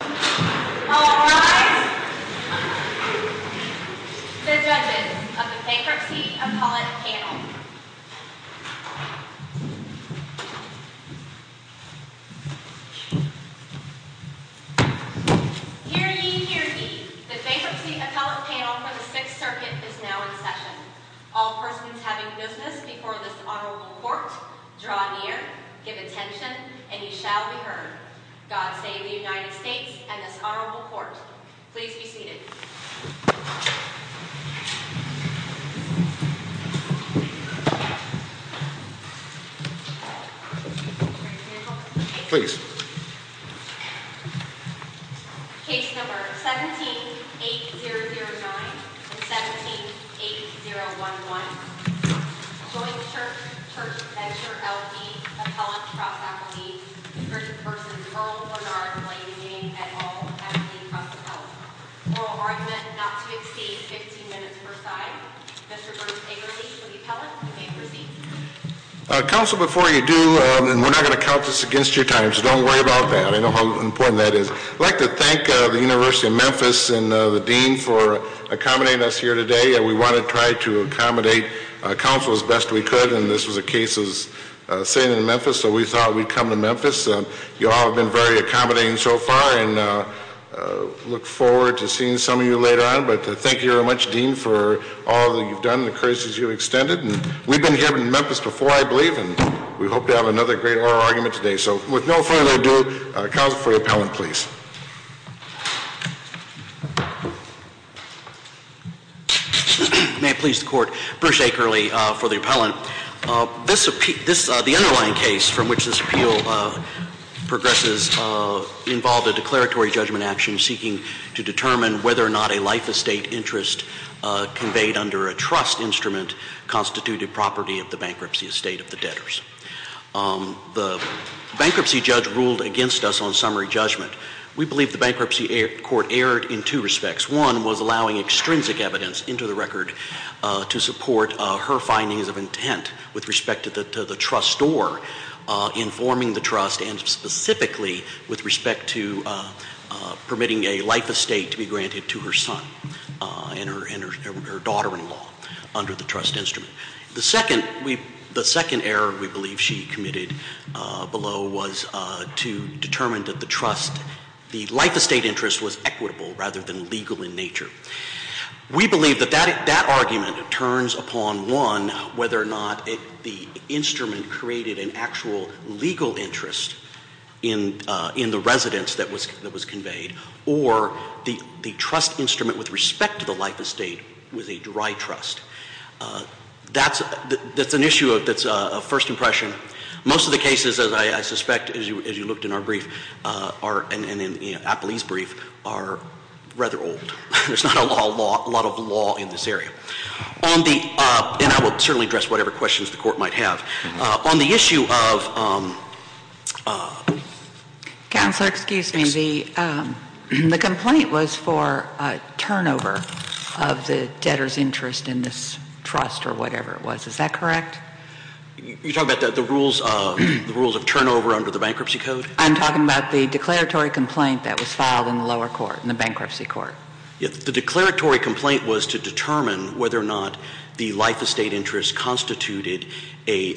All rise. The judges of the Bankruptcy Appellate Panel. Hear ye, hear ye. The Bankruptcy Appellate Panel for the Sixth Circuit is now in session. All persons having business before this honorable court, draw near, give attention, and ye shall be heard. God save the United States and this honorable court. Please be seated. Please. Case number 17-8009 and 17-8011. Joint Church Venture L.D. Appellate Cross Appellate. The first person, Earl Bernard Blasingame et al., Appellate Cross Appellate. Oral argument not to exceed 15 minutes per side. Mr. Burns-Agerly will be appellate. You may proceed. Counsel, before you do, and we're not going to count this against your time, so don't worry about that. I know how important that is. I'd like to thank the University of Memphis and the dean for accommodating us here today. We want to try to accommodate counsel as best we could, and this was a case of sin in Memphis, so we thought we'd come to Memphis. You all have been very accommodating so far, and I look forward to seeing some of you later on. But thank you very much, dean, for all that you've done and the courtesies you've extended. And we've been here in Memphis before, I believe, and we hope to have another great oral argument today. So with no further ado, counsel for the appellant, please. May it please the court. Bruce Akerly for the appellant. The underlying case from which this appeal progresses involved a declaratory judgment action seeking to determine whether or not a life estate interest conveyed under a trust instrument constituted property of the bankruptcy estate of the debtors. The bankruptcy judge ruled against us on summary judgment. We believe the bankruptcy court erred in two respects. One was allowing extrinsic evidence into the record to support her findings of intent with respect to the trustor informing the trust and specifically with respect to permitting a life estate to be granted to her son and her daughter-in-law under the trust instrument. The second error we believe she committed below was to determine that the trust, the life estate interest was equitable rather than legal in nature. We believe that that argument turns upon, one, whether or not the instrument created an actual legal interest in the residence that was conveyed, or the trust instrument with respect to the life estate was a dry trust. That's an issue that's a first impression. Most of the cases, as I suspect as you looked in our brief, and in Appley's brief, are rather old. There's not a lot of law in this area. And I will certainly address whatever questions the court might have. On the issue of- Counselor, excuse me. The complaint was for turnover of the debtor's interest in this trust or whatever it was. Is that correct? You're talking about the rules of turnover under the bankruptcy code? I'm talking about the declaratory complaint that was filed in the lower court, in the bankruptcy court. The declaratory complaint was to determine whether or not the life estate interest constituted an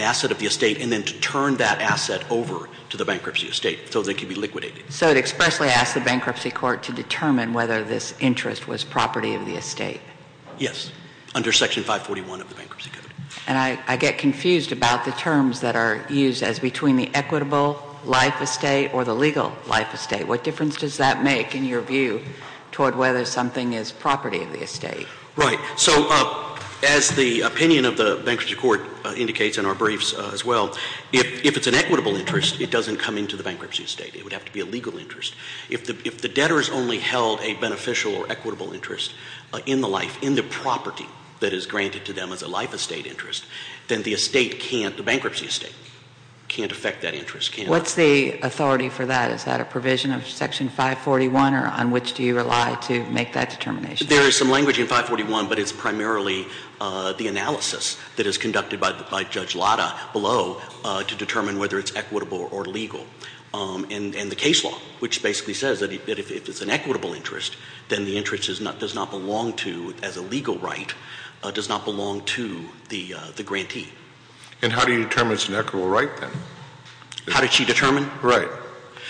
asset of the estate and then to turn that asset over to the bankruptcy estate so that it could be liquidated. So it expressly asked the bankruptcy court to determine whether this interest was property of the estate. Yes, under Section 541 of the bankruptcy code. And I get confused about the terms that are used as between the equitable life estate or the legal life estate. What difference does that make in your view toward whether something is property of the estate? Right. So as the opinion of the bankruptcy court indicates in our briefs as well, if it's an equitable interest, it doesn't come into the bankruptcy estate. It would have to be a legal interest. If the debtor has only held a beneficial or equitable interest in the life, in the property that is granted to them as a life estate interest, then the estate can't, the bankruptcy estate, can't affect that interest. What's the authority for that? Is that a provision of Section 541 or on which do you rely to make that determination? There is some language in 541, but it's primarily the analysis that is conducted by Judge Lada below to determine whether it's equitable or legal. And the case law, which basically says that if it's an equitable interest, then the interest does not belong to, as a legal right, does not belong to the grantee. And how do you determine it's an equitable right then? How did she determine? Right.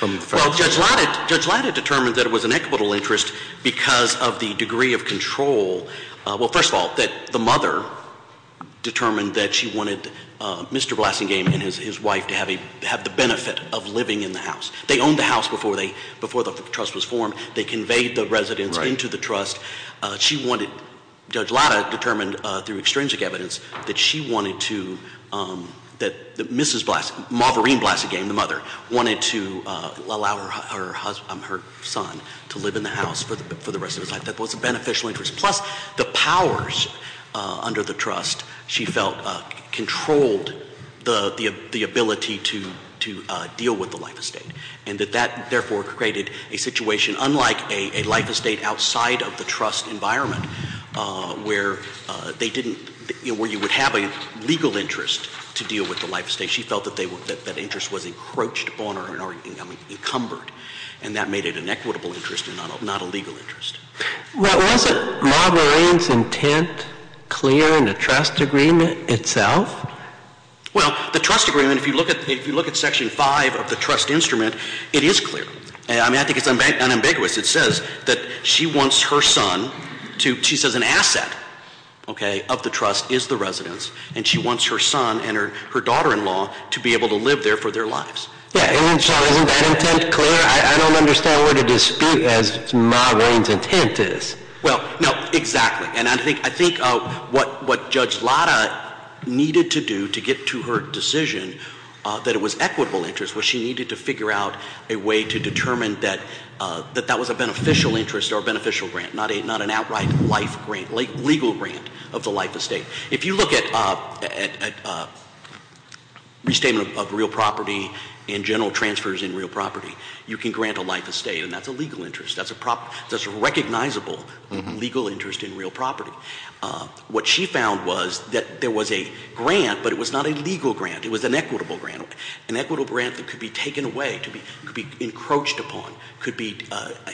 Well, Judge Lada determined that it was an equitable interest because of the degree of control. Well, first of all, that the mother determined that she wanted Mr. Blasingame and his wife to have the benefit of living in the house. They owned the house before the trust was formed. They conveyed the residents into the trust. She wanted, Judge Lada determined through extrinsic evidence, that she wanted to, that Mrs. Blasingame, Marverine Blasingame, the mother, wanted to allow her son to live in the house for the rest of his life. That was a beneficial interest. Plus, the powers under the trust, she felt, controlled the ability to deal with the life estate. And that that, therefore, created a situation unlike a life estate outside of the trust environment, where they didn't, where you would have a legal interest to deal with the life estate. She felt that that interest was encroached upon or encumbered. And that made it an equitable interest and not a legal interest. Well, wasn't Marverine's intent clear in the trust agreement itself? Well, the trust agreement, if you look at Section 5 of the trust instrument, it is clear. I mean, I think it's unambiguous. It says that she wants her son to, she says an asset, okay, of the trust is the residence. And she wants her son and her daughter-in-law to be able to live there for their lives. Yeah, and so isn't that intent clear? I don't understand what a dispute as Marverine's intent is. Well, no, exactly. And I think what Judge Lara needed to do to get to her decision, that it was equitable interest, was she needed to figure out a way to determine that that was a beneficial interest or a beneficial grant, not an outright life grant, legal grant of the life estate. If you look at restatement of real property and general transfers in real property, you can grant a life estate, and that's a legal interest. That's a recognizable legal interest in real property. What she found was that there was a grant, but it was not a legal grant, it was an equitable grant. An equitable grant that could be taken away, could be encroached upon, could be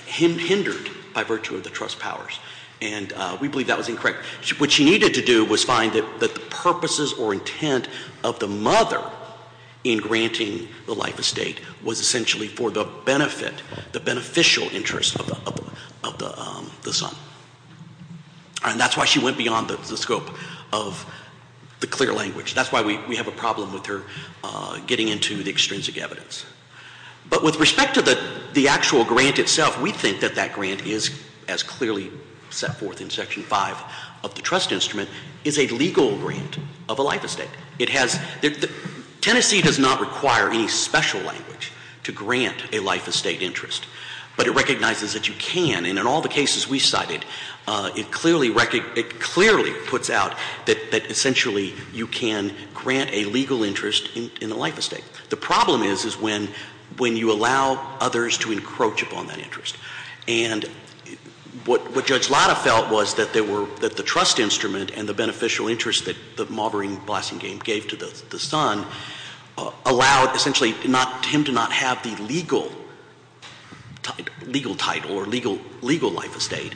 hindered by virtue of the trust powers. And we believe that was incorrect. What she needed to do was find that the purposes or intent of the mother in granting the life estate was essentially for the benefit, the beneficial interest of the son. And that's why she went beyond the scope of the clear language. That's why we have a problem with her getting into the extrinsic evidence. But with respect to the actual grant itself, we think that that grant is, as clearly set forth in section five of the trust instrument, is a legal grant of a life estate. Tennessee does not require any special language to grant a life estate interest. But it recognizes that you can, and in all the cases we cited, it clearly puts out that essentially you can grant a legal interest in a life estate. The problem is, is when you allow others to encroach upon that interest. And what Judge Latta felt was that the trust instrument and the beneficial interest that the marvering blessing game gave to the son allowed, essentially, him to not have the legal title or legal life estate,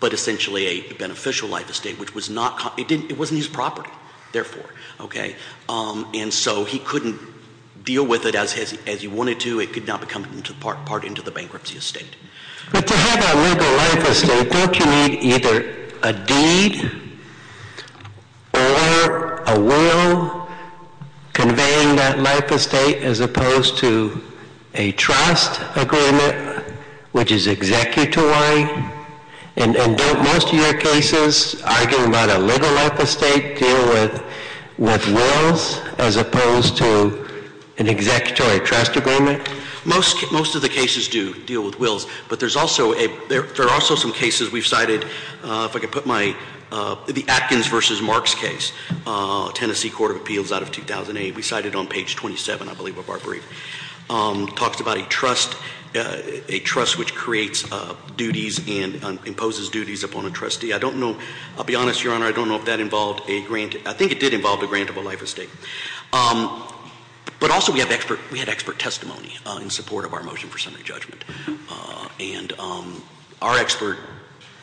but essentially a beneficial life estate, which was not, it wasn't his property, therefore. Okay, and so he couldn't deal with it as he wanted to. It could not become part into the bankruptcy estate. But to have a legal life estate, don't you need either a deed or a will conveying that life estate as opposed to a trust agreement, which is executory? And don't most of your cases, arguing about a legal life estate, deal with wills as opposed to an executory trust agreement? Most of the cases do deal with wills, but there are also some cases we've cited. If I could put my, the Atkins versus Marks case, Tennessee Court of Appeals out of 2008. We cited on page 27, I believe, of our brief. Talks about a trust which creates duties and imposes duties upon a trustee. I don't know, I'll be honest, Your Honor, I don't know if that involved a grant, I think it did involve a grant of a life estate. But also we had expert testimony in support of our motion for summary judgment. And our expert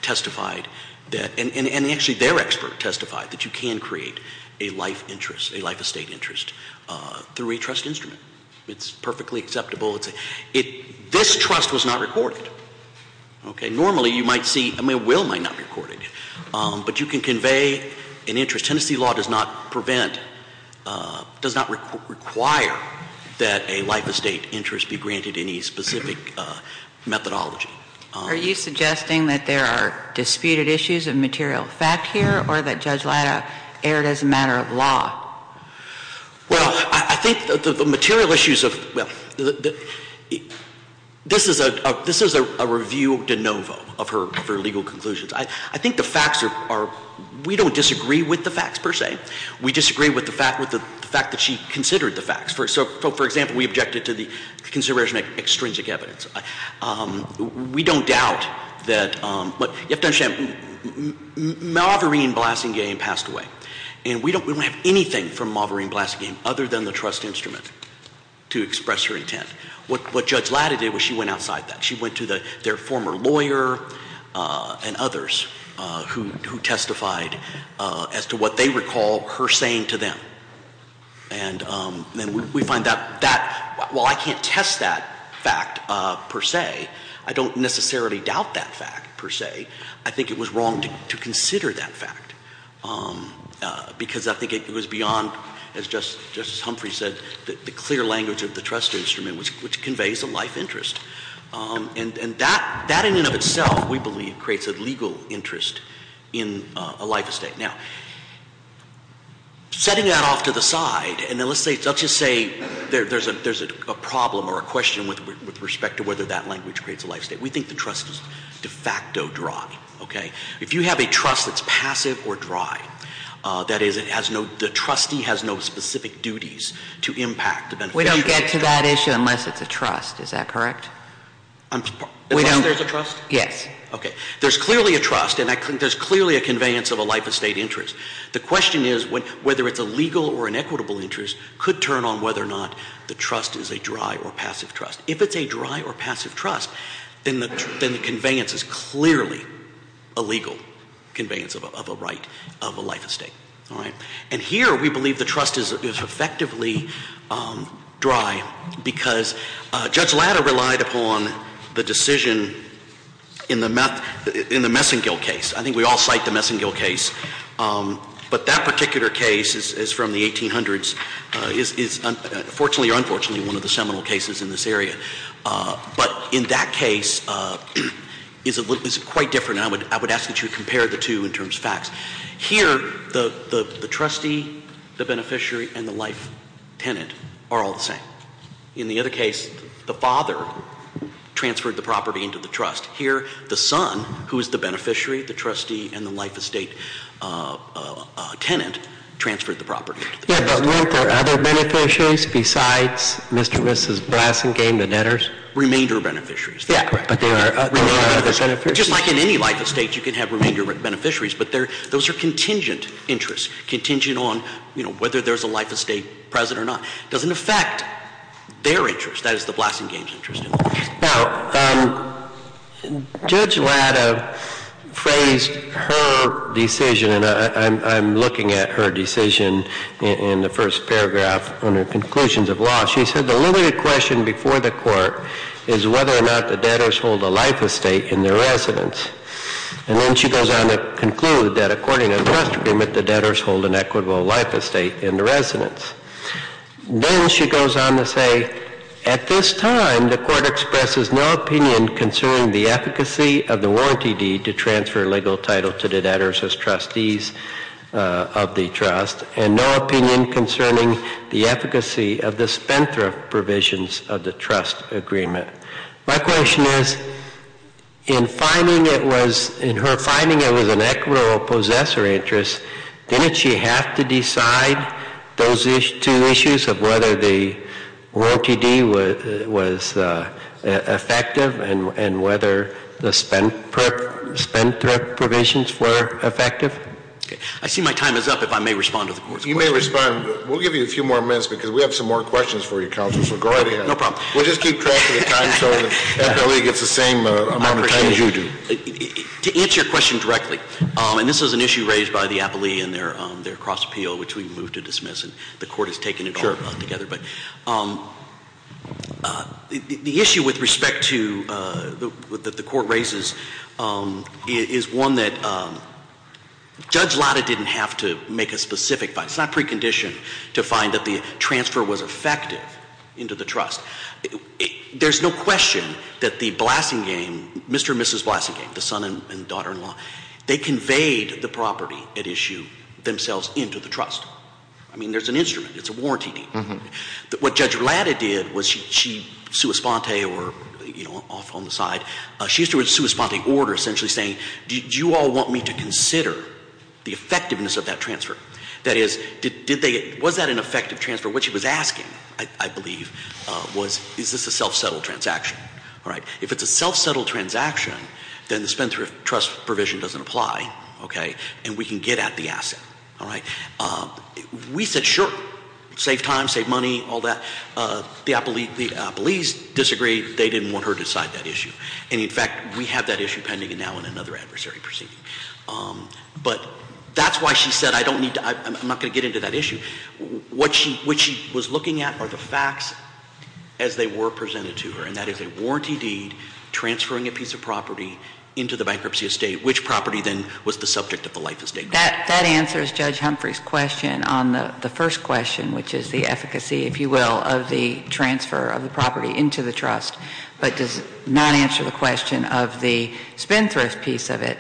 testified that, and actually their expert testified that you can create a life interest, a life estate interest through a trust instrument. It's perfectly acceptable. This trust was not recorded, okay? Normally you might see, I mean a will might not be recorded, but you can convey an interest. Tennessee law does not prevent, does not require that a life estate interest be granted any specific methodology. Are you suggesting that there are disputed issues of material fact here, or that Judge Latta erred as a matter of law? Well, I think that the material issues of, well, this is a review de novo of her legal conclusions. I think the facts are, we don't disagree with the facts per se. We disagree with the fact that she considered the facts. So for example, we objected to the consideration of extrinsic evidence. We don't doubt that, but you have to understand, then Maverine Blassingame passed away. And we don't have anything from Maverine Blassingame other than the trust instrument to express her intent. What Judge Latta did was she went outside that. She went to their former lawyer and others who testified as to what they recall her saying to them. And we find that, while I can't test that fact per se, I don't necessarily doubt that fact per se, I think it was wrong to consider that fact. Because I think it was beyond, as Justice Humphrey said, the clear language of the trust instrument, which conveys a life interest. And that in and of itself, we believe, creates a legal interest in a life estate. Now, setting that off to the side, and let's just say there's a problem or a question with respect to whether that language creates a life state. We think the trust is de facto dry, okay? If you have a trust that's passive or dry, that is, the trustee has no specific duties to impact the beneficiary. We don't get to that issue unless it's a trust, is that correct? Unless there's a trust? Yes. Okay, there's clearly a trust, and there's clearly a conveyance of a life estate interest. The question is whether it's a legal or an equitable interest could turn on whether or not the trust is a dry or passive trust. If it's a dry or passive trust, then the conveyance is clearly a legal conveyance of a right of a life estate, all right? And here, we believe the trust is effectively dry, because Judge Latta relied upon the decision in the Messengill case. I think we all cite the Messengill case, but that particular case is from the 1800s. It's fortunately or unfortunately one of the seminal cases in this area. But in that case, it's quite different, and I would ask that you compare the two in terms of facts. Here, the trustee, the beneficiary, and the life tenant are all the same. In the other case, the father transferred the property into the trust. Here, the son, who is the beneficiary, the trustee, and the life estate tenant, transferred the property. Yeah, but weren't there other beneficiaries besides Mr. and Mrs. Blasingame, the debtors? Remainder beneficiaries. Yeah, correct. But there are other beneficiaries? Just like in any life estate, you can have remainder beneficiaries. But those are contingent interests, contingent on whether there's a life estate present or not. Doesn't affect their interest, that is the Blasingame's interest. Now, Judge Latta phrased her decision, and I'm looking at her decision in the first paragraph on her conclusions of law. She said, the limited question before the court is whether or not the debtors hold a life estate in their residence. And then she goes on to conclude that according to the trust agreement, the debtors hold an equitable life estate in the residence. Then she goes on to say, at this time, the court expresses no opinion concerning the efficacy of the warranty deed to transfer a legal title to the debtors as trustees of the trust. And no opinion concerning the efficacy of the Spentra provisions of the trust agreement. My question is, in her finding it was an equitable possessor interest, didn't she have to decide those two issues of whether the warranty deed was effective and whether the Spentra provisions were effective? I see my time is up, if I may respond to the court's questions. You may respond. We'll give you a few more minutes, because we have some more questions for you, Counselor Segarria. No problem. We'll just keep track of the time, so the FLE gets the same amount of time as you do. To answer your question directly, and this is an issue raised by the appellee in their cross appeal, which we've moved to dismiss, and the court has taken it all together. But the issue with respect to the court raises is one that Judge Lada didn't have to make a specific, it's not precondition to find that the transfer was effective into the trust. There's no question that the Blasingame, Mr. and Mrs. Blasingame, the son and daughter-in-law, they conveyed the property at issue themselves into the trust. I mean, there's an instrument, it's a warranty deed. What Judge Lada did was she, sui sponte or off on the side, she's doing a sui sponte order essentially saying, did you all want me to consider the effectiveness of that transfer? That is, was that an effective transfer? What she was asking, I believe, was, is this a self-settled transaction, all right? If it's a self-settled transaction, then the spend-through trust provision doesn't apply, okay, and we can get at the asset, all right? We said sure, save time, save money, all that. The appellees disagreed, they didn't want her to decide that issue. And in fact, we have that issue pending now in another adversary proceeding. But that's why she said I don't need to, I'm not going to get into that issue. What she was looking at are the facts as they were presented to her, and that is a warranty deed transferring a piece of property into the bankruptcy estate. Which property then was the subject of the life estate? That answers Judge Humphrey's question on the first question, which is the efficacy, if you will, of the transfer of the property into the trust. But does not answer the question of the spend-thrift piece of it,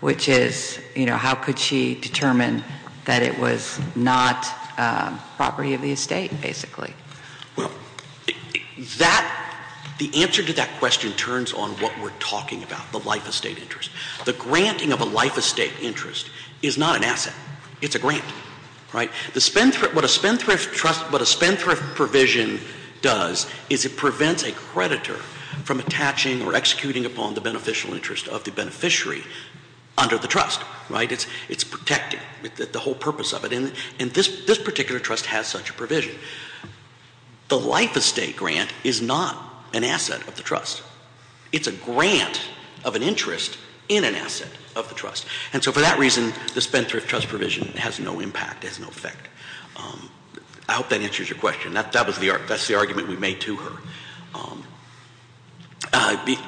which is how could she determine that it was not property of the estate, basically? Well, the answer to that question turns on what we're talking about, the life estate interest. The granting of a life estate interest is not an asset, it's a grant, right? What a spend-thrift provision does is it prevents a creditor from attaching or executing upon the beneficial interest of the beneficiary under the trust, right? It's protected, the whole purpose of it, and this particular trust has such a provision. The life estate grant is not an asset of the trust. It's a grant of an interest in an asset of the trust. And so for that reason, the spend-thrift trust provision has no impact, has no effect. I hope that answers your question. That's the argument we made to her,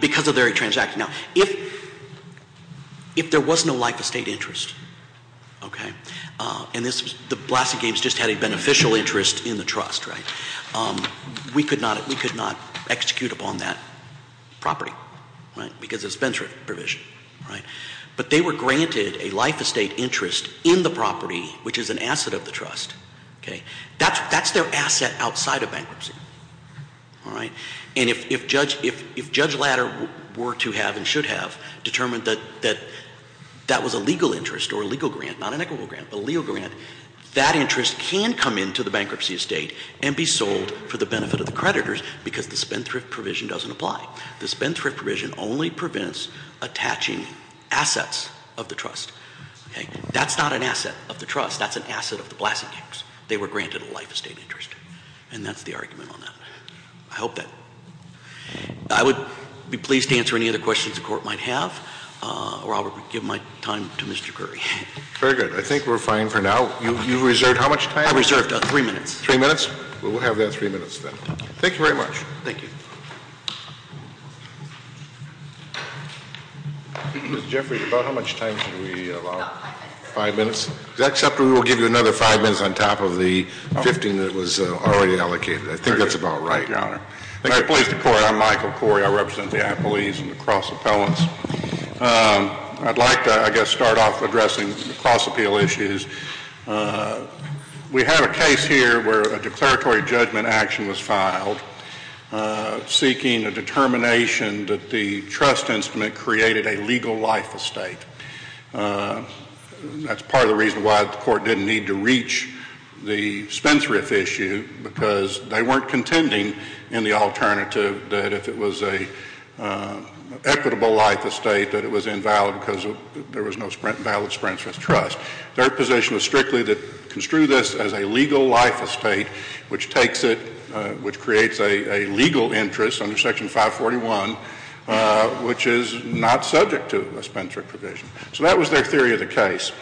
because of their transaction. Now, if there was no life estate interest, okay? And the Blaston Games just had a beneficial interest in the trust, right? We could not execute upon that property, right? Because it's a spend-thrift provision, right? But they were granted a life estate interest in the property, which is an asset of the trust, okay? That's their asset outside of bankruptcy, all right? And if Judge Latter were to have and should have determined that that was a legal interest or legal grant, not an equitable grant, but a legal grant, that interest can come into the bankruptcy estate and be sold for the benefit of the creditors, because the spend-thrift provision doesn't apply. The spend-thrift provision only prevents attaching assets of the trust, okay? That's not an asset of the trust, that's an asset of the Blaston Games. They were granted a life estate interest, and that's the argument on that. I hope that, I would be pleased to answer any other questions the court might have, or I'll give my time to Mr. Curry. Very good, I think we're fine for now. You've reserved how much time? I reserved three minutes. Three minutes? Well, we'll have that three minutes then. Thank you very much. Thank you. Mr. Jeffrey, about how much time should we allow? About five minutes. Five minutes? Is that acceptable? We'll give you another five minutes on top of the 15 that was already allocated. I think that's about right. Thank you, Your Honor. Thank you. I'm Michael Corey. I represent the appellees and the cross-appellants. I'd like to, I guess, start off addressing the cross-appeal issues. We have a case here where a declaratory judgment action was filed, seeking a determination that the trust instrument created a legal life estate. That's part of the reason why the court didn't need to reach the Spence-Riff issue, because they weren't contending in the alternative that if it was an equitable life estate, that it was invalid because there was no valid Spence-Riff trust. Their position was strictly to construe this as a legal life estate, which takes it, which creates a legal interest under Section 541, which is not subject to a Spence-Riff provision. So that was their theory of the case.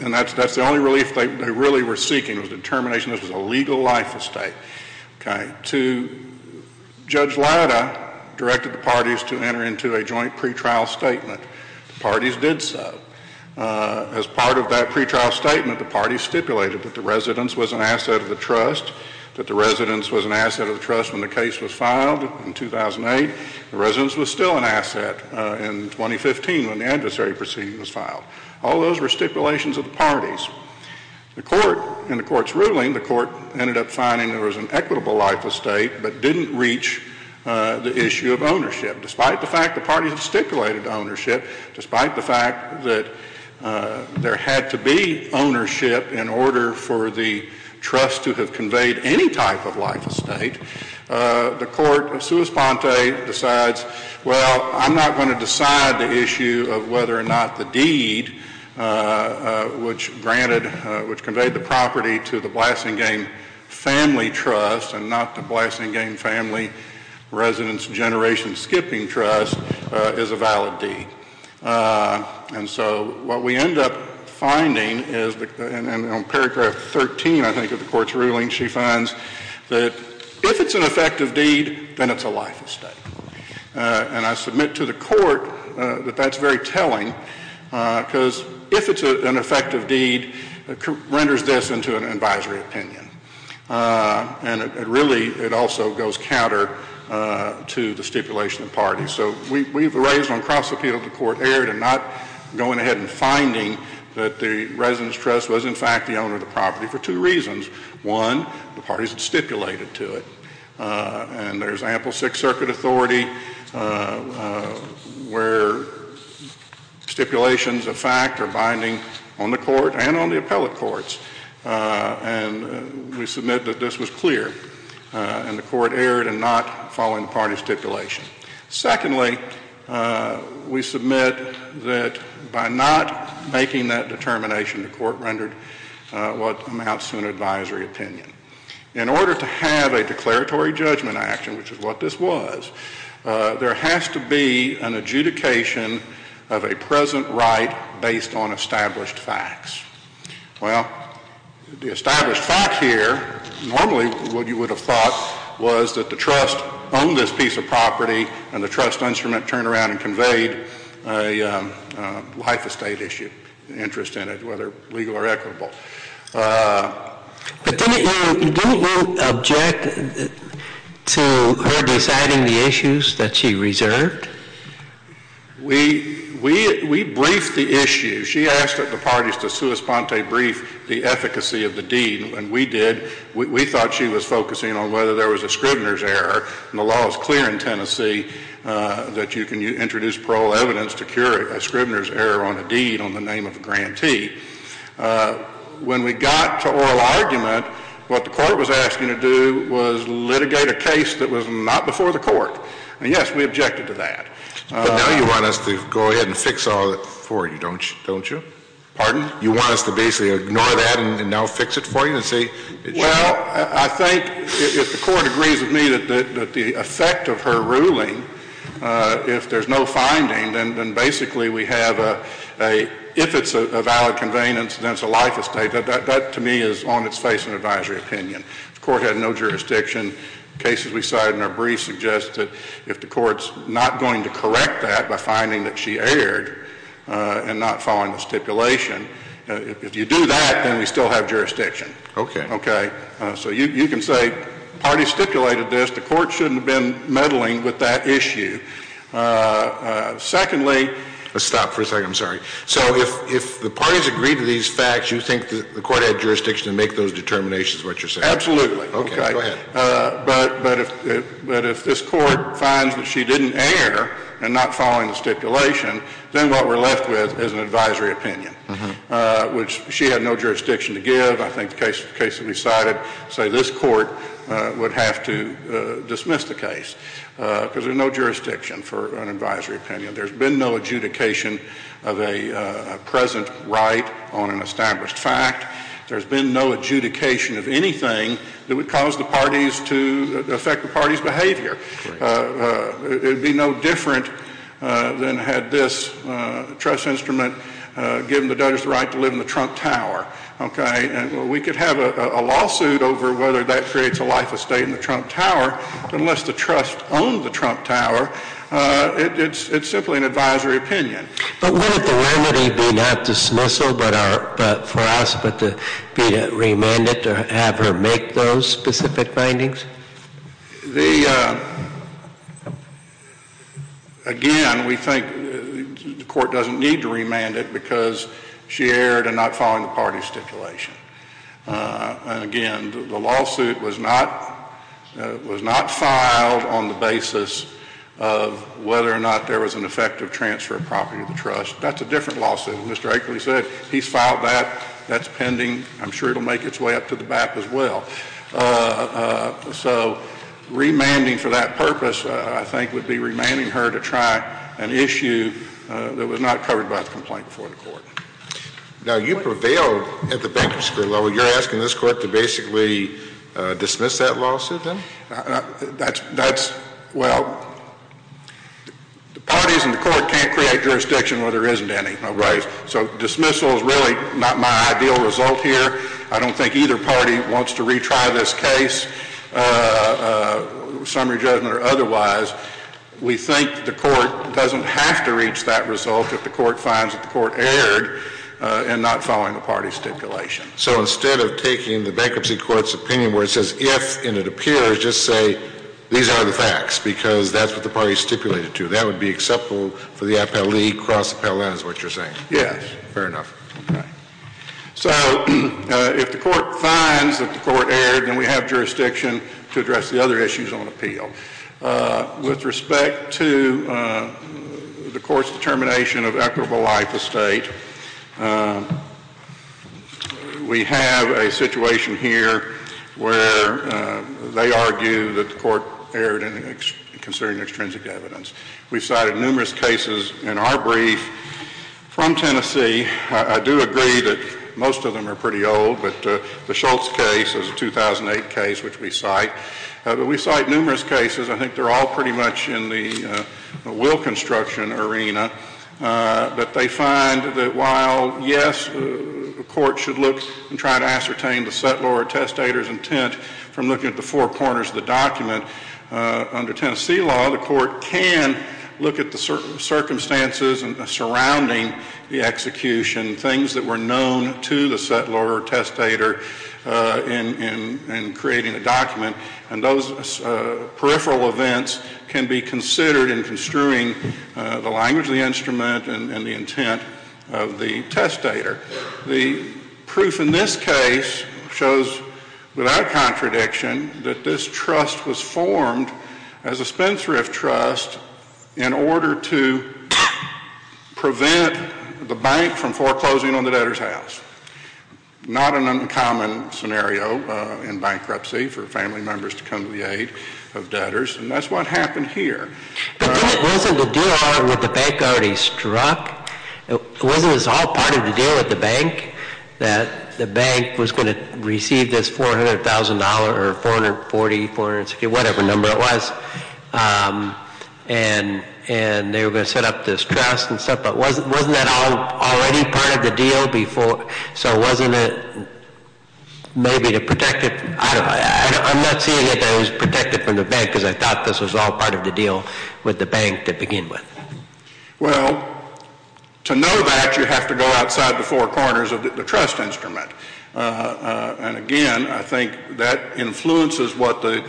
And that's the only relief they really were seeking, was the determination this was a legal life estate. Okay. To, Judge Lauda directed the parties to enter into a joint pretrial statement. Parties did so. As part of that pretrial statement, the parties stipulated that the residence was an asset of the trust, that the residence was an asset of the trust when the case was filed in 2008. The residence was still an asset in 2015 when the adversary proceeding was filed. All those were stipulations of the parties. The court, in the court's ruling, the court ended up finding there was an equitable life estate but didn't reach the issue of ownership. Despite the fact the parties stipulated ownership, despite the fact that there had to be ownership in order for the trust to have conveyed any type of life estate, the court of sua sponte decides, well, I'm not going to decide the issue of whether or not the deed which granted, which conveyed the property to the Blasingame Family Trust and not the Blasingame Family Residence Generation Skipping Trust is a valid deed. And so what we end up finding is, and on paragraph 13, I think, of the court's ruling, she finds that if it's an effective deed, then it's a life estate. And I submit to the court that that's very telling because if it's an effective deed, it renders this into an advisory opinion. And it really, it also goes counter to the stipulation of the parties. So we've raised on cross-appeal, the court erred in not going ahead and finding that the residence trust was in fact the owner of the property for two reasons. One, the parties stipulated to it. And there's ample Sixth Circuit authority where stipulations of fact are binding on the court and on the appellate courts. And we submit that this was clear. And the court erred in not following the party stipulation. Secondly, we submit that by not making that determination, the court rendered what amounts to an advisory opinion. In order to have a declaratory judgment action, which is what this was, there has to be an adjudication of a present right based on established facts. Well, the established fact here, normally what you would have thought was that the trust owned this piece of property and the trust instrument turned around and conveyed a life estate issue, interest in it, whether legal or equitable. But didn't you object to her deciding the issues that she reserved? We briefed the issue. She asked that the parties to sua sponte brief the efficacy of the deed. And we did. We thought she was focusing on whether there was a scrivener's error. And the law is clear in Tennessee that you can introduce parole evidence to cure a scrivener's error on a deed on the name of a grantee. When we got to oral argument, what the court was asking to do was litigate a case that was not before the court. And yes, we objected to that. But now you want us to go ahead and fix all that for you, don't you? Pardon? You want us to basically ignore that and now fix it for you and say? Well, I think if the court agrees with me that the effect of her ruling, if there's no finding, then basically we have a, if it's a valid conveyance, then it's a life estate. That to me is on its face an advisory opinion. If the court had no jurisdiction, cases we cited in our brief suggested if the court's not going to correct that by finding that she erred and not following the stipulation, if you do that, then we still have jurisdiction. Okay. Okay. So you can say parties stipulated this. The court shouldn't have been meddling with that issue. Secondly. Let's stop for a second. I'm sorry. So if the parties agree to these facts, you think the court had jurisdiction to make those determinations is what you're saying? Absolutely. Okay. Go ahead. But if this court finds that she didn't err and not following the stipulation, then what we're left with is an advisory opinion, which she had no jurisdiction to give. I think the cases we cited say this court would have to dismiss the case because there's no jurisdiction for an advisory opinion. There's been no adjudication of a present right on an established fact. There's been no adjudication of anything that would cause the parties to affect the parties' behavior. It would be no different than had this trust instrument given the Dutch the right to live in the Trump Tower. Okay. And we could have a lawsuit over whether that creates a life estate in the Trump Tower unless the trust owned the Trump Tower. It's simply an advisory opinion. But wouldn't the remedy be not dismissal for us but to be remanded to have her make those specific findings? Again, we think the court doesn't need to remand it because she erred in not following the parties' stipulation. And again, the lawsuit was not filed on the basis of whether or not there was an effective transfer of property to the trust. That's a different lawsuit. And Mr. Akeley said he's filed that. That's pending. I'm sure it'll make its way up to the BAP as well. So remanding for that purpose, I think, would be remanding her to try an issue that was not covered by the complaint before the court. Now, you prevailed at the bankruptcy level. You're asking this court to basically dismiss that lawsuit then? That's, well, the parties and the court can't create jurisdiction where there isn't any. Right. So dismissal is really not my ideal result here. I don't think either party wants to retry this case, summary judgment or otherwise. We think the court doesn't have to reach that result if the court finds that the court erred in not following the parties' stipulation. So instead of taking the bankruptcy court's opinion where it says if and it appears, just say these are the facts because that's what the parties stipulated to. That would be acceptable for the APEL League across the parallel lines of what you're saying? Yes. Fair enough. So if the court finds that the court erred, then we have jurisdiction to address the other issues on appeal. With respect to the court's determination of equitable life estate, we have a situation here where they argue that the court erred in considering extrinsic evidence. We cited numerous cases in our brief from Tennessee. I do agree that most of them are pretty old, but the Schultz case is a 2008 case which we cite. But we cite numerous cases. I think they're all pretty much in the will construction arena. But they find that while yes, the court should look and try to ascertain the settlor or testator's intent from looking at the four corners of the document, under Tennessee law, the court can look at the circumstances surrounding the execution, things that were known to the settlor or testator in creating the document. And those peripheral events can be considered in construing the language of the instrument and the intent of the testator. The proof in this case shows without contradiction that this trust was formed as a spendthrift trust in order to prevent the bank from foreclosing on the debtor's house. Not an uncommon scenario in bankruptcy for family members to come to the aid of debtors. And that's what happened here. But wasn't the deal already with the bank already struck? Wasn't this all part of the deal with the bank? That the bank was going to receive this $400,000 or 440, 460, whatever number it was? And they were going to set up this trust and stuff. But wasn't that all already part of the deal before? So wasn't it maybe to protect it? I'm not saying that it was protected from the bank because I thought this was all part of the deal with the bank to begin with. Well, to know that you have to go outside the four corners of the trust instrument. And again, I think that influences what the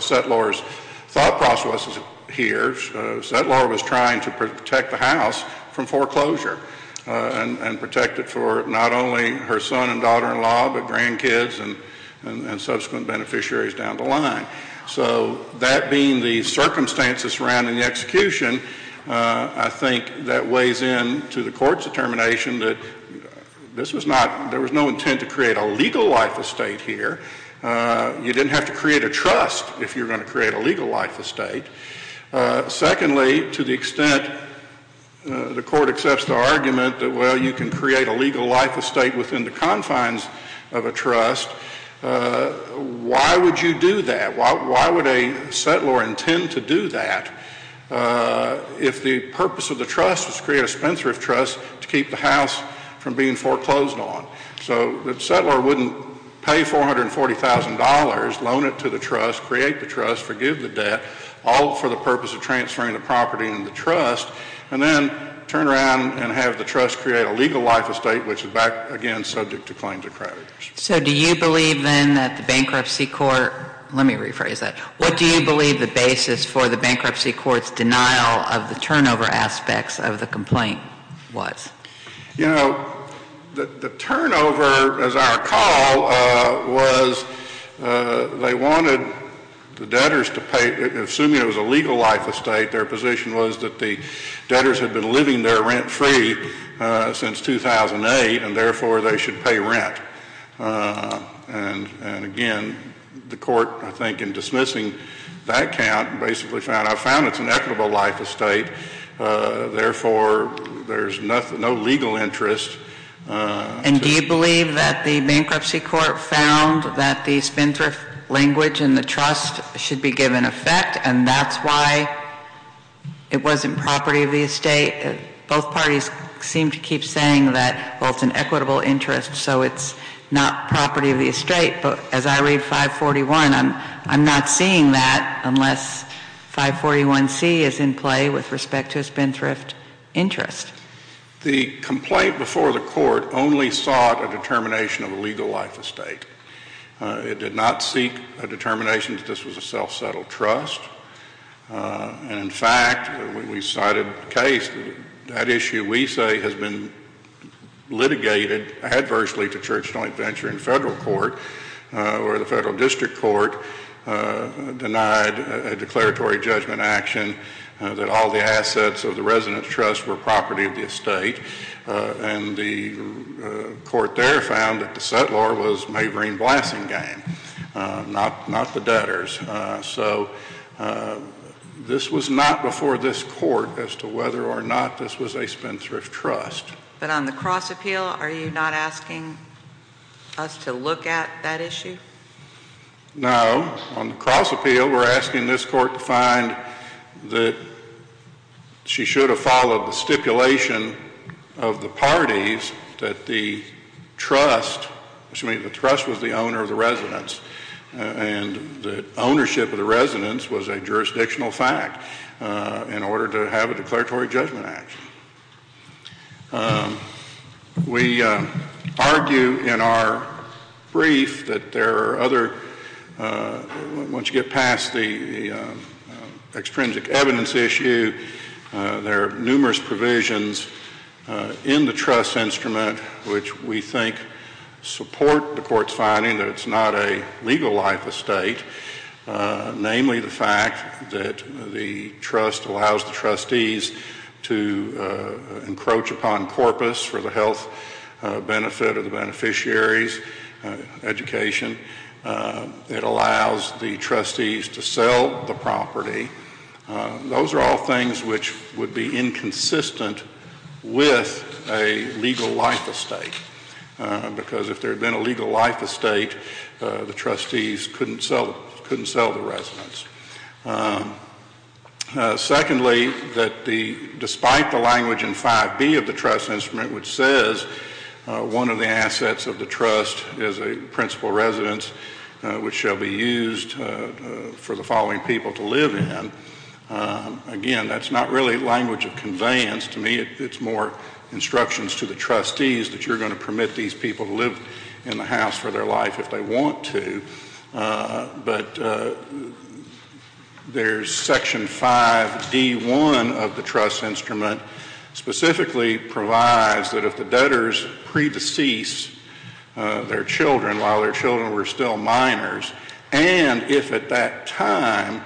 settlors thought process was here. Settlor was trying to protect the house from foreclosure and protect it for not only her son and daughter-in-law, but grandkids and subsequent beneficiaries down the line. So that being the circumstances surrounding the execution, I think that weighs into the court's determination that this was not, there was no intent to create a legal life estate here. You didn't have to create a trust if you were going to create a legal life estate. Secondly, to the extent the court accepts the argument that, well, you can create a legal life estate within the confines of a trust, why would you do that? Why would a settlor intend to do that if the purpose of the trust was to create a Spencer of trust to keep the house from being foreclosed on? So the settlor wouldn't pay $440,000, loan it to the trust, create the trust, forgive the debt, all for the purpose of transferring the property into the trust, and then turn around and have the trust create a legal life estate, which is, again, subject to claims of creditors. So do you believe, then, that the bankruptcy court, let me rephrase that, what do you believe the basis for the bankruptcy court's denial of the turnover aspects of the complaint was? You know, the turnover, as I recall, was they wanted the debtors to pay, assuming it was a legal life estate, their position was that the debtors had been living there rent-free since 2008, and therefore, they should pay rent. And again, the court, I think, in dismissing that count, basically found, I found it's an equitable life estate. Therefore, there's no legal interest. And do you believe that the bankruptcy court found that the spendthrift language in the trust should be given effect, and that's why it wasn't property of the estate? Both parties seem to keep saying that, well, it's an equitable interest, so it's not property of the estate. But as I read 541, I'm not seeing that, is in play with respect to spendthrift interest. The complaint before the court only sought a determination of a legal life estate. It did not seek a determination that this was a self-settled trust. And in fact, we cited a case that issue, we say, has been litigated adversely to church joint venture in federal court, where the federal district court denied a declaratory judgment action that all the assets of the resident's trust were property of the estate. And the court there found that the settlor was mavering blasting game, not the debtors. So this was not before this court as to whether or not this was a spendthrift trust. But on the cross appeal, are you not asking us to look at that issue? No. On the cross appeal, we're asking this court to find that she should have followed the stipulation of the parties that the trust was the owner of the residence. And the ownership of the residence was a jurisdictional fact in order to have a declaratory judgment action. We argue in our brief that there are other, once you get past the extrinsic evidence issue, there are numerous provisions in the trust instrument which we think support the court's finding that it's not a legal life estate, namely the fact that the trust allows the trustees to encroach upon corpus for the health benefit of the beneficiaries, education. It allows the trustees to sell the property. Those are all things which would be inconsistent with a legal life estate. Because if there had been a legal life estate, the trustees couldn't sell the residence. Secondly, that despite the language in 5B of the trust instrument, which says one of the assets of the trust is a principal residence which shall be used for the following people to live in, again, that's not really language of conveyance. To me, it's more instructions to the trustees that you're going to permit these people to live in the house for their life if they want to. But there's section 5D1 of the trust instrument specifically provides that if the debtors pre-decease their children while their children were still minors, and if at that time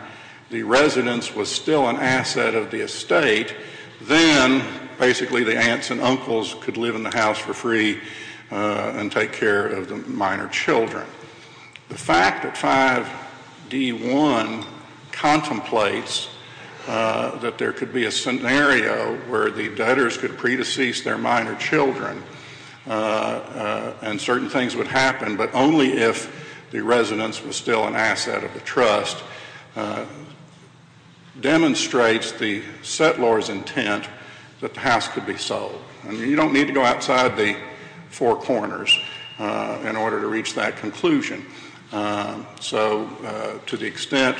the residence was still an asset of the estate, then basically the aunts and uncles could live in the house for free and take care of the minor children. The fact that 5D1 contemplates that there could be a scenario where the debtors could pre-decease their minor children and certain things would happen, but only if the residence was still an asset of the trust, demonstrates the settlor's intent that the house could be sold. And you don't need to go outside the four corners in order to reach that conclusion. So to the extent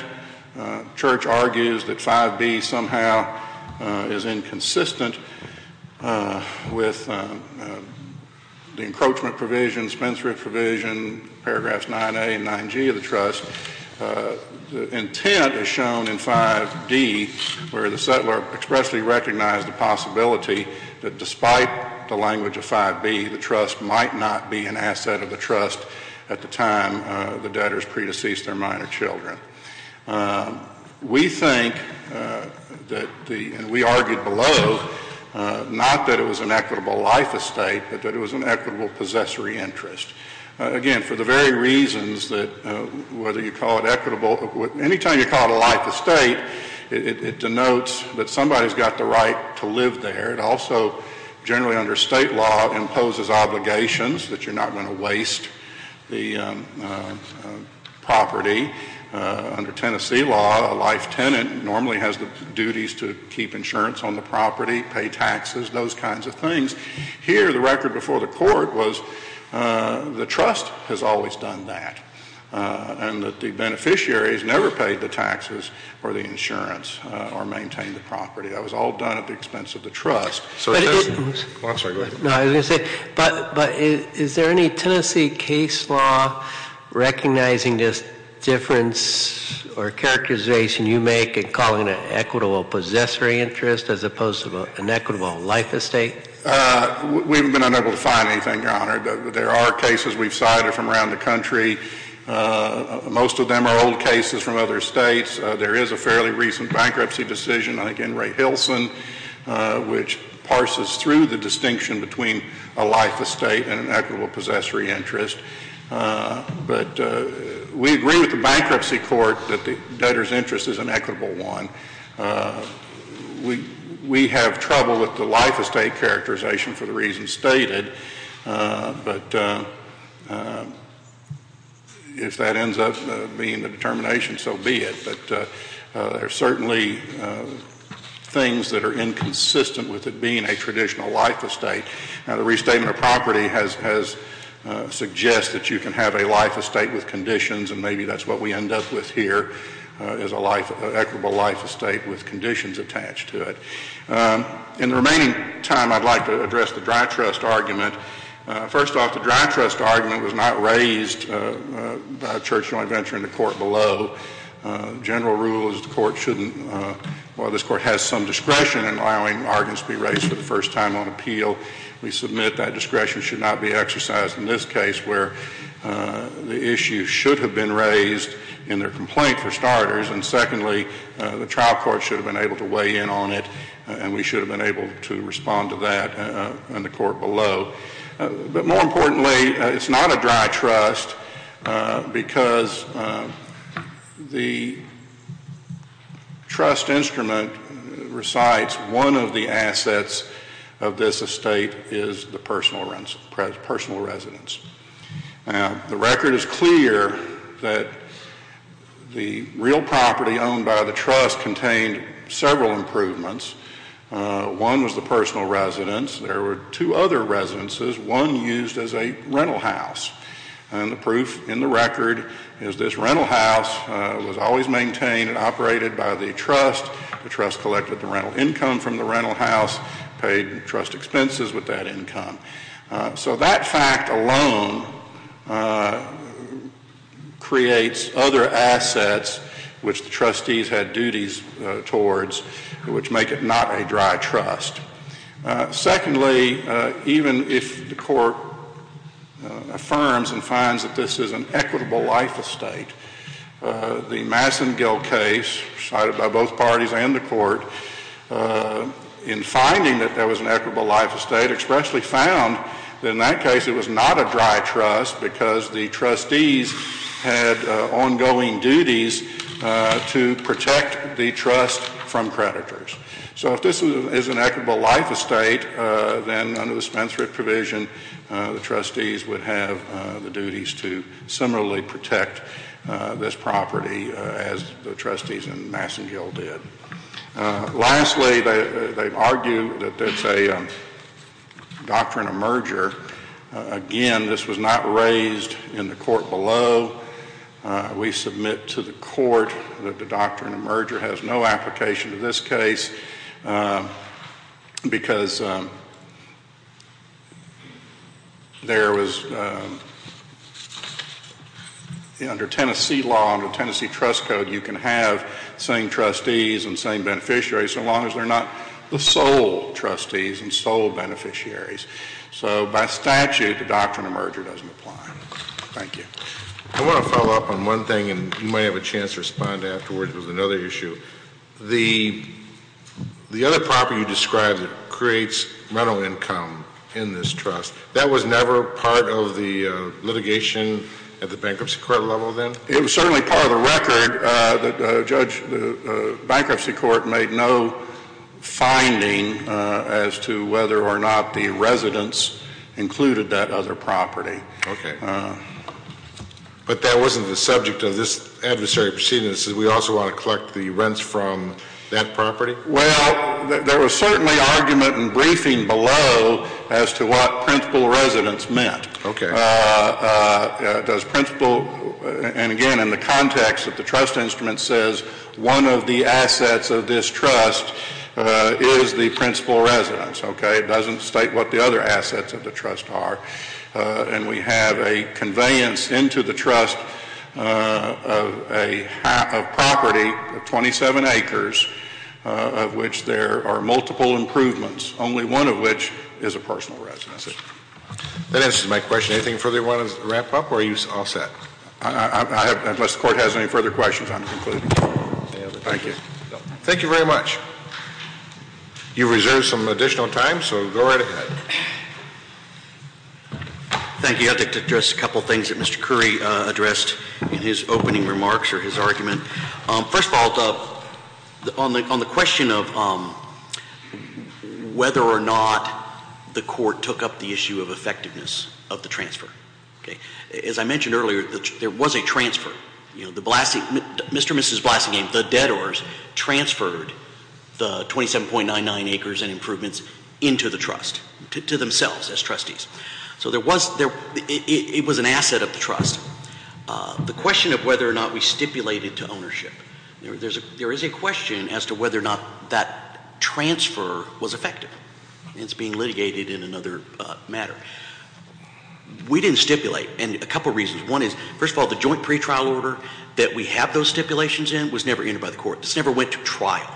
Church argues that 5B somehow is inconsistent with the encroachment provision, Spenshrew provision, paragraphs 9A and 9G of the trust, the intent is shown in 5D where the settlor expressly recognized the possibility that despite the language of 5B, the trust might not be an asset of the trust at the time the debtors pre-deceased their minor children. We think that we argued below, not that it was an equitable life estate, but that it was an equitable possessory interest. Again, for the very reasons that whether you call it equitable, any time you call it a life estate, it denotes that somebody's got the right to live there. It also, generally under state law, imposes obligations that you're not going to waste the property. Under Tennessee law, a life tenant normally has the duties to keep insurance on the property, pay taxes, those kinds of things. Here, the record before the court was the trust has always done that. And the beneficiaries never paid the taxes or the insurance or maintained the property. That was all done at the expense of the trust. So it doesn't, I'm sorry, go ahead. No, I was going to say, but is there any Tennessee case law recognizing this difference or characterization you make and calling it equitable possessory interest as opposed to an equitable life estate? We haven't been able to find anything, Your Honor. There are cases we've cited from around the country. Most of them are old cases from other states. There is a fairly recent bankruptcy decision, I think, in Ray Hilson, which parses through the distinction between a life estate and an equitable possessory interest. But we agree with the bankruptcy court that the debtor's interest is an equitable one. We have trouble with the life estate characterization for the reasons stated. But if that ends up being the determination, so be it. But there are certainly things that are inconsistent with it being a traditional life estate. Now, the restatement of property has suggests that you can have a life estate with conditions. And maybe that's what we end up with here, is an equitable life estate with conditions attached to it. In the remaining time, I'd like to address the dry trust argument. First off, the dry trust argument was not raised by Church Joint Venture in the court below. General rule is the court shouldn't, while this court has some discretion in allowing arguments to be raised for the first time on appeal, we submit that discretion should not be exercised in this case, where the issue should have been raised in their complaint, for starters. And secondly, the trial court should have been able to weigh in on it. And we should have been able to respond to that in the court below. But more importantly, it's not a dry trust, because the trust instrument recites one of the assets of this estate is the personal residence. The record is clear that the real property owned by the trust contained several improvements. One was the personal residence. There were two other residences, one used as a rental house. And the proof in the record is this rental house was always maintained and operated by the trust. The trust collected the rental income from the rental house, paid trust expenses with that income. So that fact alone creates other assets which the trustees had duties towards, which make it not a dry trust. Secondly, even if the court affirms and finds that this is an equitable life estate, the Massengill case cited by both parties and the court in finding that there was an equitable life estate expressly found that in that case it was not a dry trust, because the trustees had ongoing duties to protect the trust from creditors. So if this is an equitable life estate, then under the Spence-Rick provision, the trustees would have the duties to similarly protect this property as the trustees in Massengill did. Lastly, they argue that there's a doctrine of merger. Again, this was not raised in the court below. We submit to the court that the doctrine of merger has no application to this case, because there was, under Tennessee law, under Tennessee trust code, you can have the same trustees and same beneficiaries so long as they're not the sole trustees and sole beneficiaries. So by statute, the doctrine of merger doesn't apply. Thank you. I want to follow up on one thing, and you may have a chance to respond afterwards. It was another issue. The other property you described that creates rental income in this trust, that was never part of the litigation at the bankruptcy court level then? It was certainly part of the record that the bankruptcy court made no finding as to whether or not the residents included that other property. But that wasn't the subject of this adversary proceedings. We also want to collect the rents from that property? Well, there was certainly argument and briefing below as to what principal residence meant. OK. And again, in the context that the trust instrument says, one of the assets of this trust is the principal residence. It doesn't state what the other assets of the trust are. And we have a conveyance into the trust of property of 27 acres, of which there are multiple improvements, only one of which is a personal residence. That answers my question. Anything further you want to wrap up, or are you all set? Unless the court has any further questions, I'm concluding. Thank you. Thank you very much. You've reserved some additional time, so go right ahead. Thank you. I'd like to address a couple of things that Mr. Curry addressed in his opening remarks or his argument. First of all, on the question of whether or not the court took up the issue of effectiveness of the transfer. As I mentioned earlier, there was a transfer. Mr. and Mrs. Blassingame, the debtors, transferred the 27.99 acres and improvements into the trust, to themselves as trustees. So it was an asset of the trust. The question of whether or not we stipulated to ownership. There is a question as to whether or not that transfer was effective. It's being litigated in another matter. We didn't stipulate, and a couple of reasons. One is, first of all, the joint pretrial order that we have those stipulations in was never entered by the court. This never went to trial.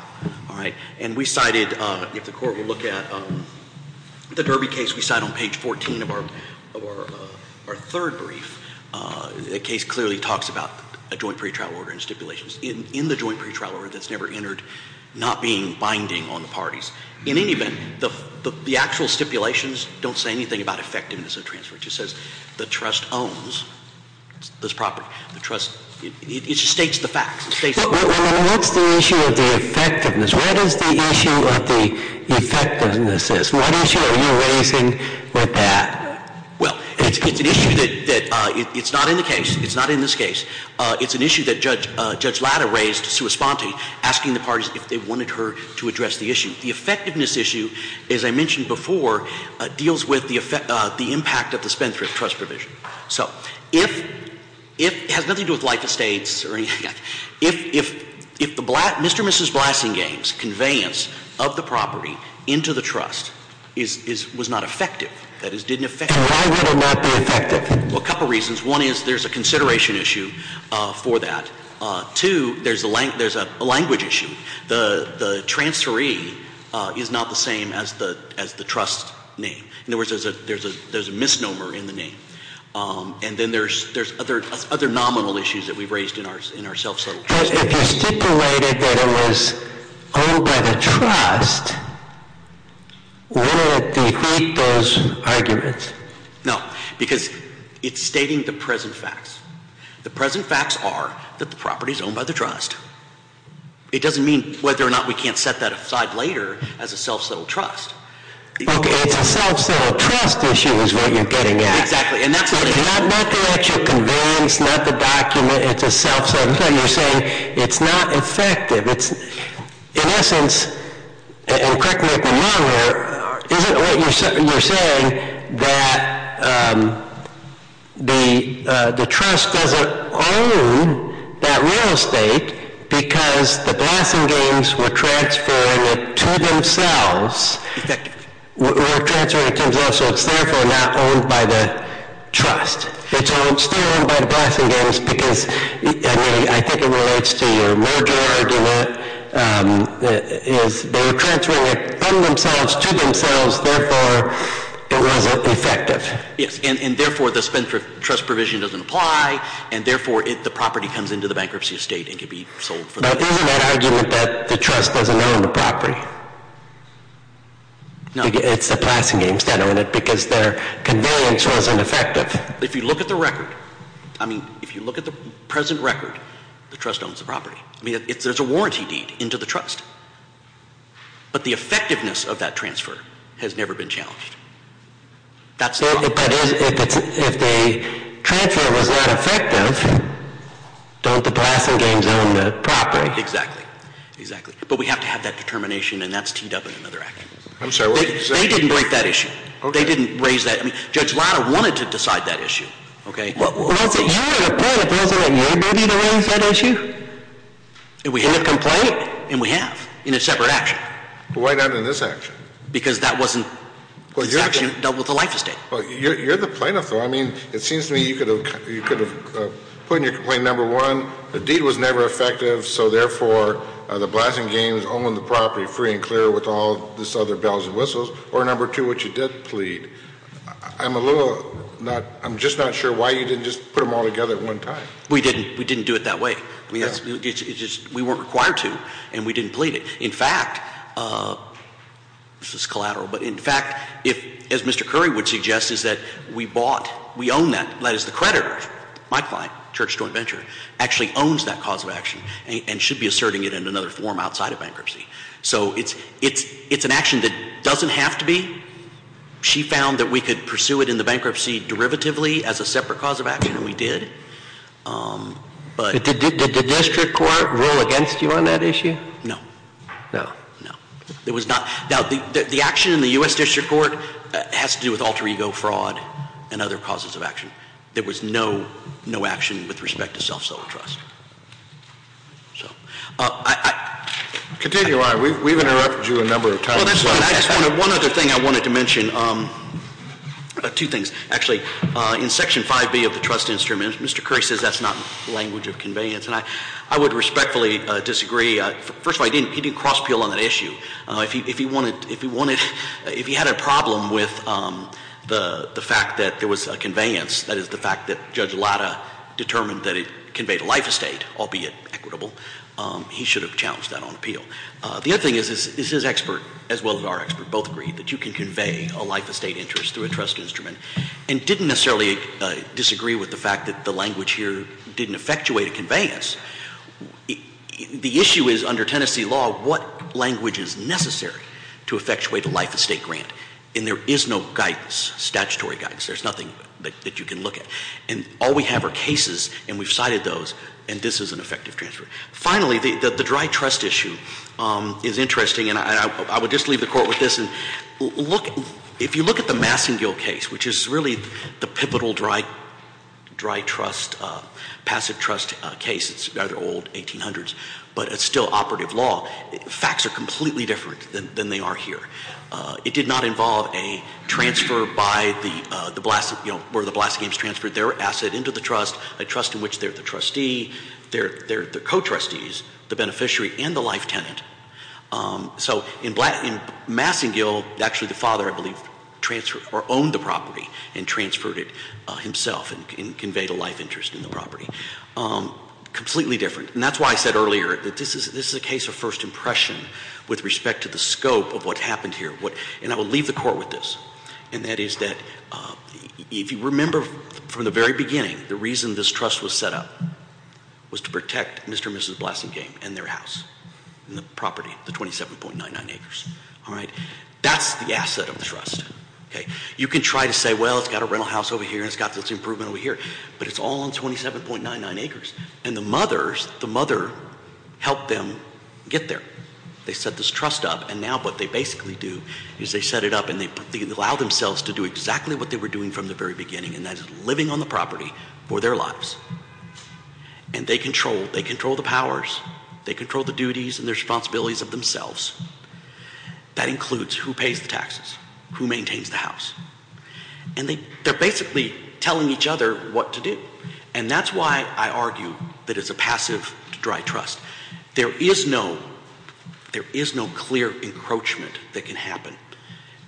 All right? And we cited, if the court will look at the Derby case, we cite on page 14 of our third brief. The case clearly talks about a joint pretrial order and stipulations in the joint pretrial order that's never entered, not being binding on the parties. In any event, the actual stipulations don't say anything about effectiveness of transfer. It just says the trust owns this property. The trust, it just states the facts. Well, then what's the issue of the effectiveness? What is the issue of the effectiveness? What issue are you raising with that? Well, it's an issue that it's not in the case. It's not in this case. It's an issue that Judge Latta raised to respond to asking the parties if they wanted her to address the issue. The effectiveness issue, as I mentioned before, deals with the impact of the spendthrift trust provision. So it has nothing to do with life estates or anything like that. If the Mr. and Mrs. Blassingame's conveyance of the property into the trust was not effective, that is, didn't affect it, why would it not be effective? Well, a couple of reasons. One is there's a consideration issue for that. Two, there's a language issue. The transferee is not the same as the trust name. In other words, there's a misnomer in the name. And then there's other nominal issues that we've raised in our self-settled trust. If you stipulated that it was owned by the trust, wouldn't it defeat those arguments? No, because it's stating the present facts. The present facts are that the property is owned by the trust. It doesn't mean whether or not we can't set that aside later as a self-settled trust. Okay, it's a self-settled trust issue is what you're getting at. Exactly, and that's what- Not the actual conveyance, not the document, it's a self-settled. You're saying it's not effective. It's, in essence, and correct me if I'm wrong here, isn't what you're saying that the trust doesn't own that real estate? Because the Blassingames were transferring it to themselves. Effective. Were transferring it to themselves, so it's therefore not owned by the trust. It's still owned by the Blassingames because, I mean, I think it relates to your merger argument. They were transferring it from themselves to themselves, therefore, it wasn't effective. Yes, and therefore, the trust provision doesn't apply. And therefore, the property comes into the bankruptcy estate and can be sold for- But isn't that argument that the trust doesn't own the property? No. It's the Blassingames that own it, because their conveyance wasn't effective. If you look at the record, I mean, if you look at the present record, the trust owns the property. I mean, there's a warranty deed into the trust. But the effectiveness of that transfer has never been challenged. That's not- But if the transfer was not effective, don't the Blassingames own the property? Exactly, exactly. But we have to have that determination, and that's teamed up in another action. I'm sorry, what did you say? They didn't break that issue. They didn't raise that. Judge Latta wanted to decide that issue, okay? Well, that's an error of court if it wasn't in your movie to raise that issue. And we have- In the complaint? And we have, in a separate action. But why not in this action? Because that wasn't, this action dealt with the life estate. You're the plaintiff though. I mean, it seems to me you could have put in your complaint number one, the deed was never effective. So therefore, the Blassingames own the property free and clear with all this other bells and whistles. Or number two, what you did plead, I'm a little, I'm just not sure why you didn't just put them all together at one time. We didn't do it that way. We weren't required to, and we didn't plead it. In fact, this is collateral, but in fact, as Mr. Curry would suggest, is that we bought, we own that, that is the creditor, my client, Church Joint Venture, actually owns that cause of action and should be asserting it in another form outside of bankruptcy. So it's an action that doesn't have to be. She found that we could pursue it in the bankruptcy derivatively as a separate cause of action, and we did, but- Did the district court rule against you on that issue? No. No. No. It was not, now the action in the US district court has to do with alter ego fraud and other causes of action. There was no action with respect to self-sold trust. So, I- Continue on, we've interrupted you a number of times. Well, that's fine, I just wanted, one other thing I wanted to mention, two things. Actually, in section 5B of the trust instrument, Mr. Curry says that's not language of conveyance. And I would respectfully disagree, first of all, he didn't cross appeal on that issue. If he wanted, if he had a problem with the fact that there was a conveyance, that is the fact that Judge Latta determined that it conveyed a life estate, albeit equitable, he should have challenged that on appeal. The other thing is his expert, as well as our expert, both agreed that you can convey a life estate interest through a trust instrument. And didn't necessarily disagree with the fact that the language here didn't effectuate a conveyance. The issue is, under Tennessee law, what language is necessary to effectuate a life estate grant? And there is no guidance, statutory guidance, there's nothing that you can look at. And all we have are cases, and we've cited those, and this is an effective transfer. Finally, the dry trust issue is interesting, and I would just leave the court with this. If you look at the Massingill case, which is really the pivotal dry trust, passive trust case, it's rather old, 1800s, but it's still operative law. Facts are completely different than they are here. It did not involve a transfer by the, where the Blast Games transferred their asset into the trust, a trust in which they're the trustee, they're the co-trustees, the beneficiary, and the life tenant. So in Massingill, actually the father, I believe, transferred or owned the property and transferred it himself and conveyed a life interest in the property. Completely different, and that's why I said earlier that this is a case of first impression with respect to the scope of what happened here. And I will leave the court with this. And that is that, if you remember from the very beginning, the reason this trust was set up was to protect Mr. and Mrs. Blassingame and their house. And the property, the 27.99 acres, all right? That's the asset of the trust, okay? You can try to say, well, it's got a rental house over here, and it's got this improvement over here, but it's all on 27.99 acres. And the mothers, the mother helped them get there. They set this trust up, and now what they basically do is they set it up and they allow themselves to do exactly what they were doing from the very beginning, and that is living on the property for their lives. And they control, they control the powers, they control the duties and the responsibilities of themselves. That includes who pays the taxes, who maintains the house, and they're basically telling each other what to do. And that's why I argue that it's a passive dry trust. There is no, there is no clear encroachment that can happen.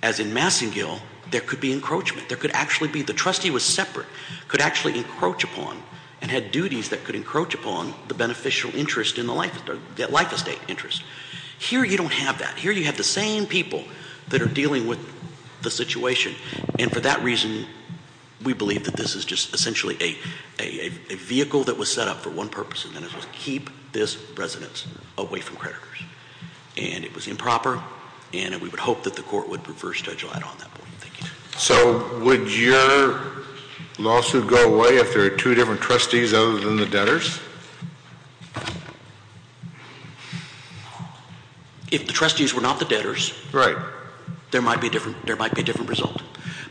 As in Massengill, there could be encroachment. There could actually be, the trustee was separate, could actually encroach upon and had duties that could encroach upon the beneficial interest in the life estate interest. Here you don't have that. Here you have the same people that are dealing with the situation. And for that reason, we believe that this is just essentially a vehicle that was set up for one purpose. And that is to keep this residence away from creditors. And it was improper, and we would hope that the court would reverse schedule that on that point. So, would your lawsuit go away if there are two different trustees other than the debtors? If the trustees were not the debtors. Right. There might be a different result.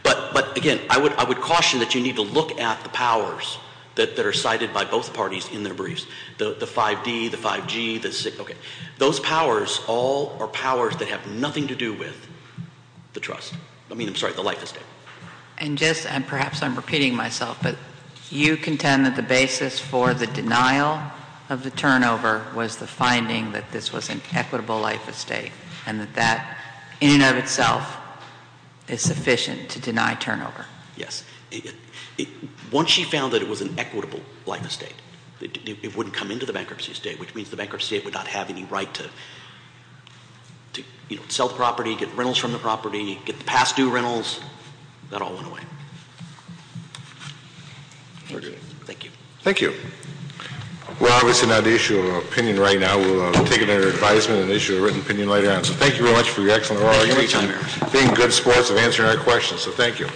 But again, I would caution that you need to look at the powers that are cited by both parties in their briefs. The 5D, the 5G, the 6, okay. Those powers all are powers that have nothing to do with the trust. I mean, I'm sorry, the life estate. And just, and perhaps I'm repeating myself, but you contend that the basis for the denial of the turnover was the finding that this was an equitable life estate. And that that, in and of itself, is sufficient to deny turnover. Yes, once she found that it was an equitable life estate, it wouldn't come into the bankruptcy estate. Which means the bankruptcy estate would not have any right to sell the property, get rentals from the property, get the past due rentals, that all went away. Thank you. Thank you. Well, obviously not the issue of opinion right now. We'll take it under advisement and issue a written opinion later on. So thank you very much for your excellent arguments and being good sports of answering our questions, so thank you. The bankruptcy appellate panel now stands adjourned.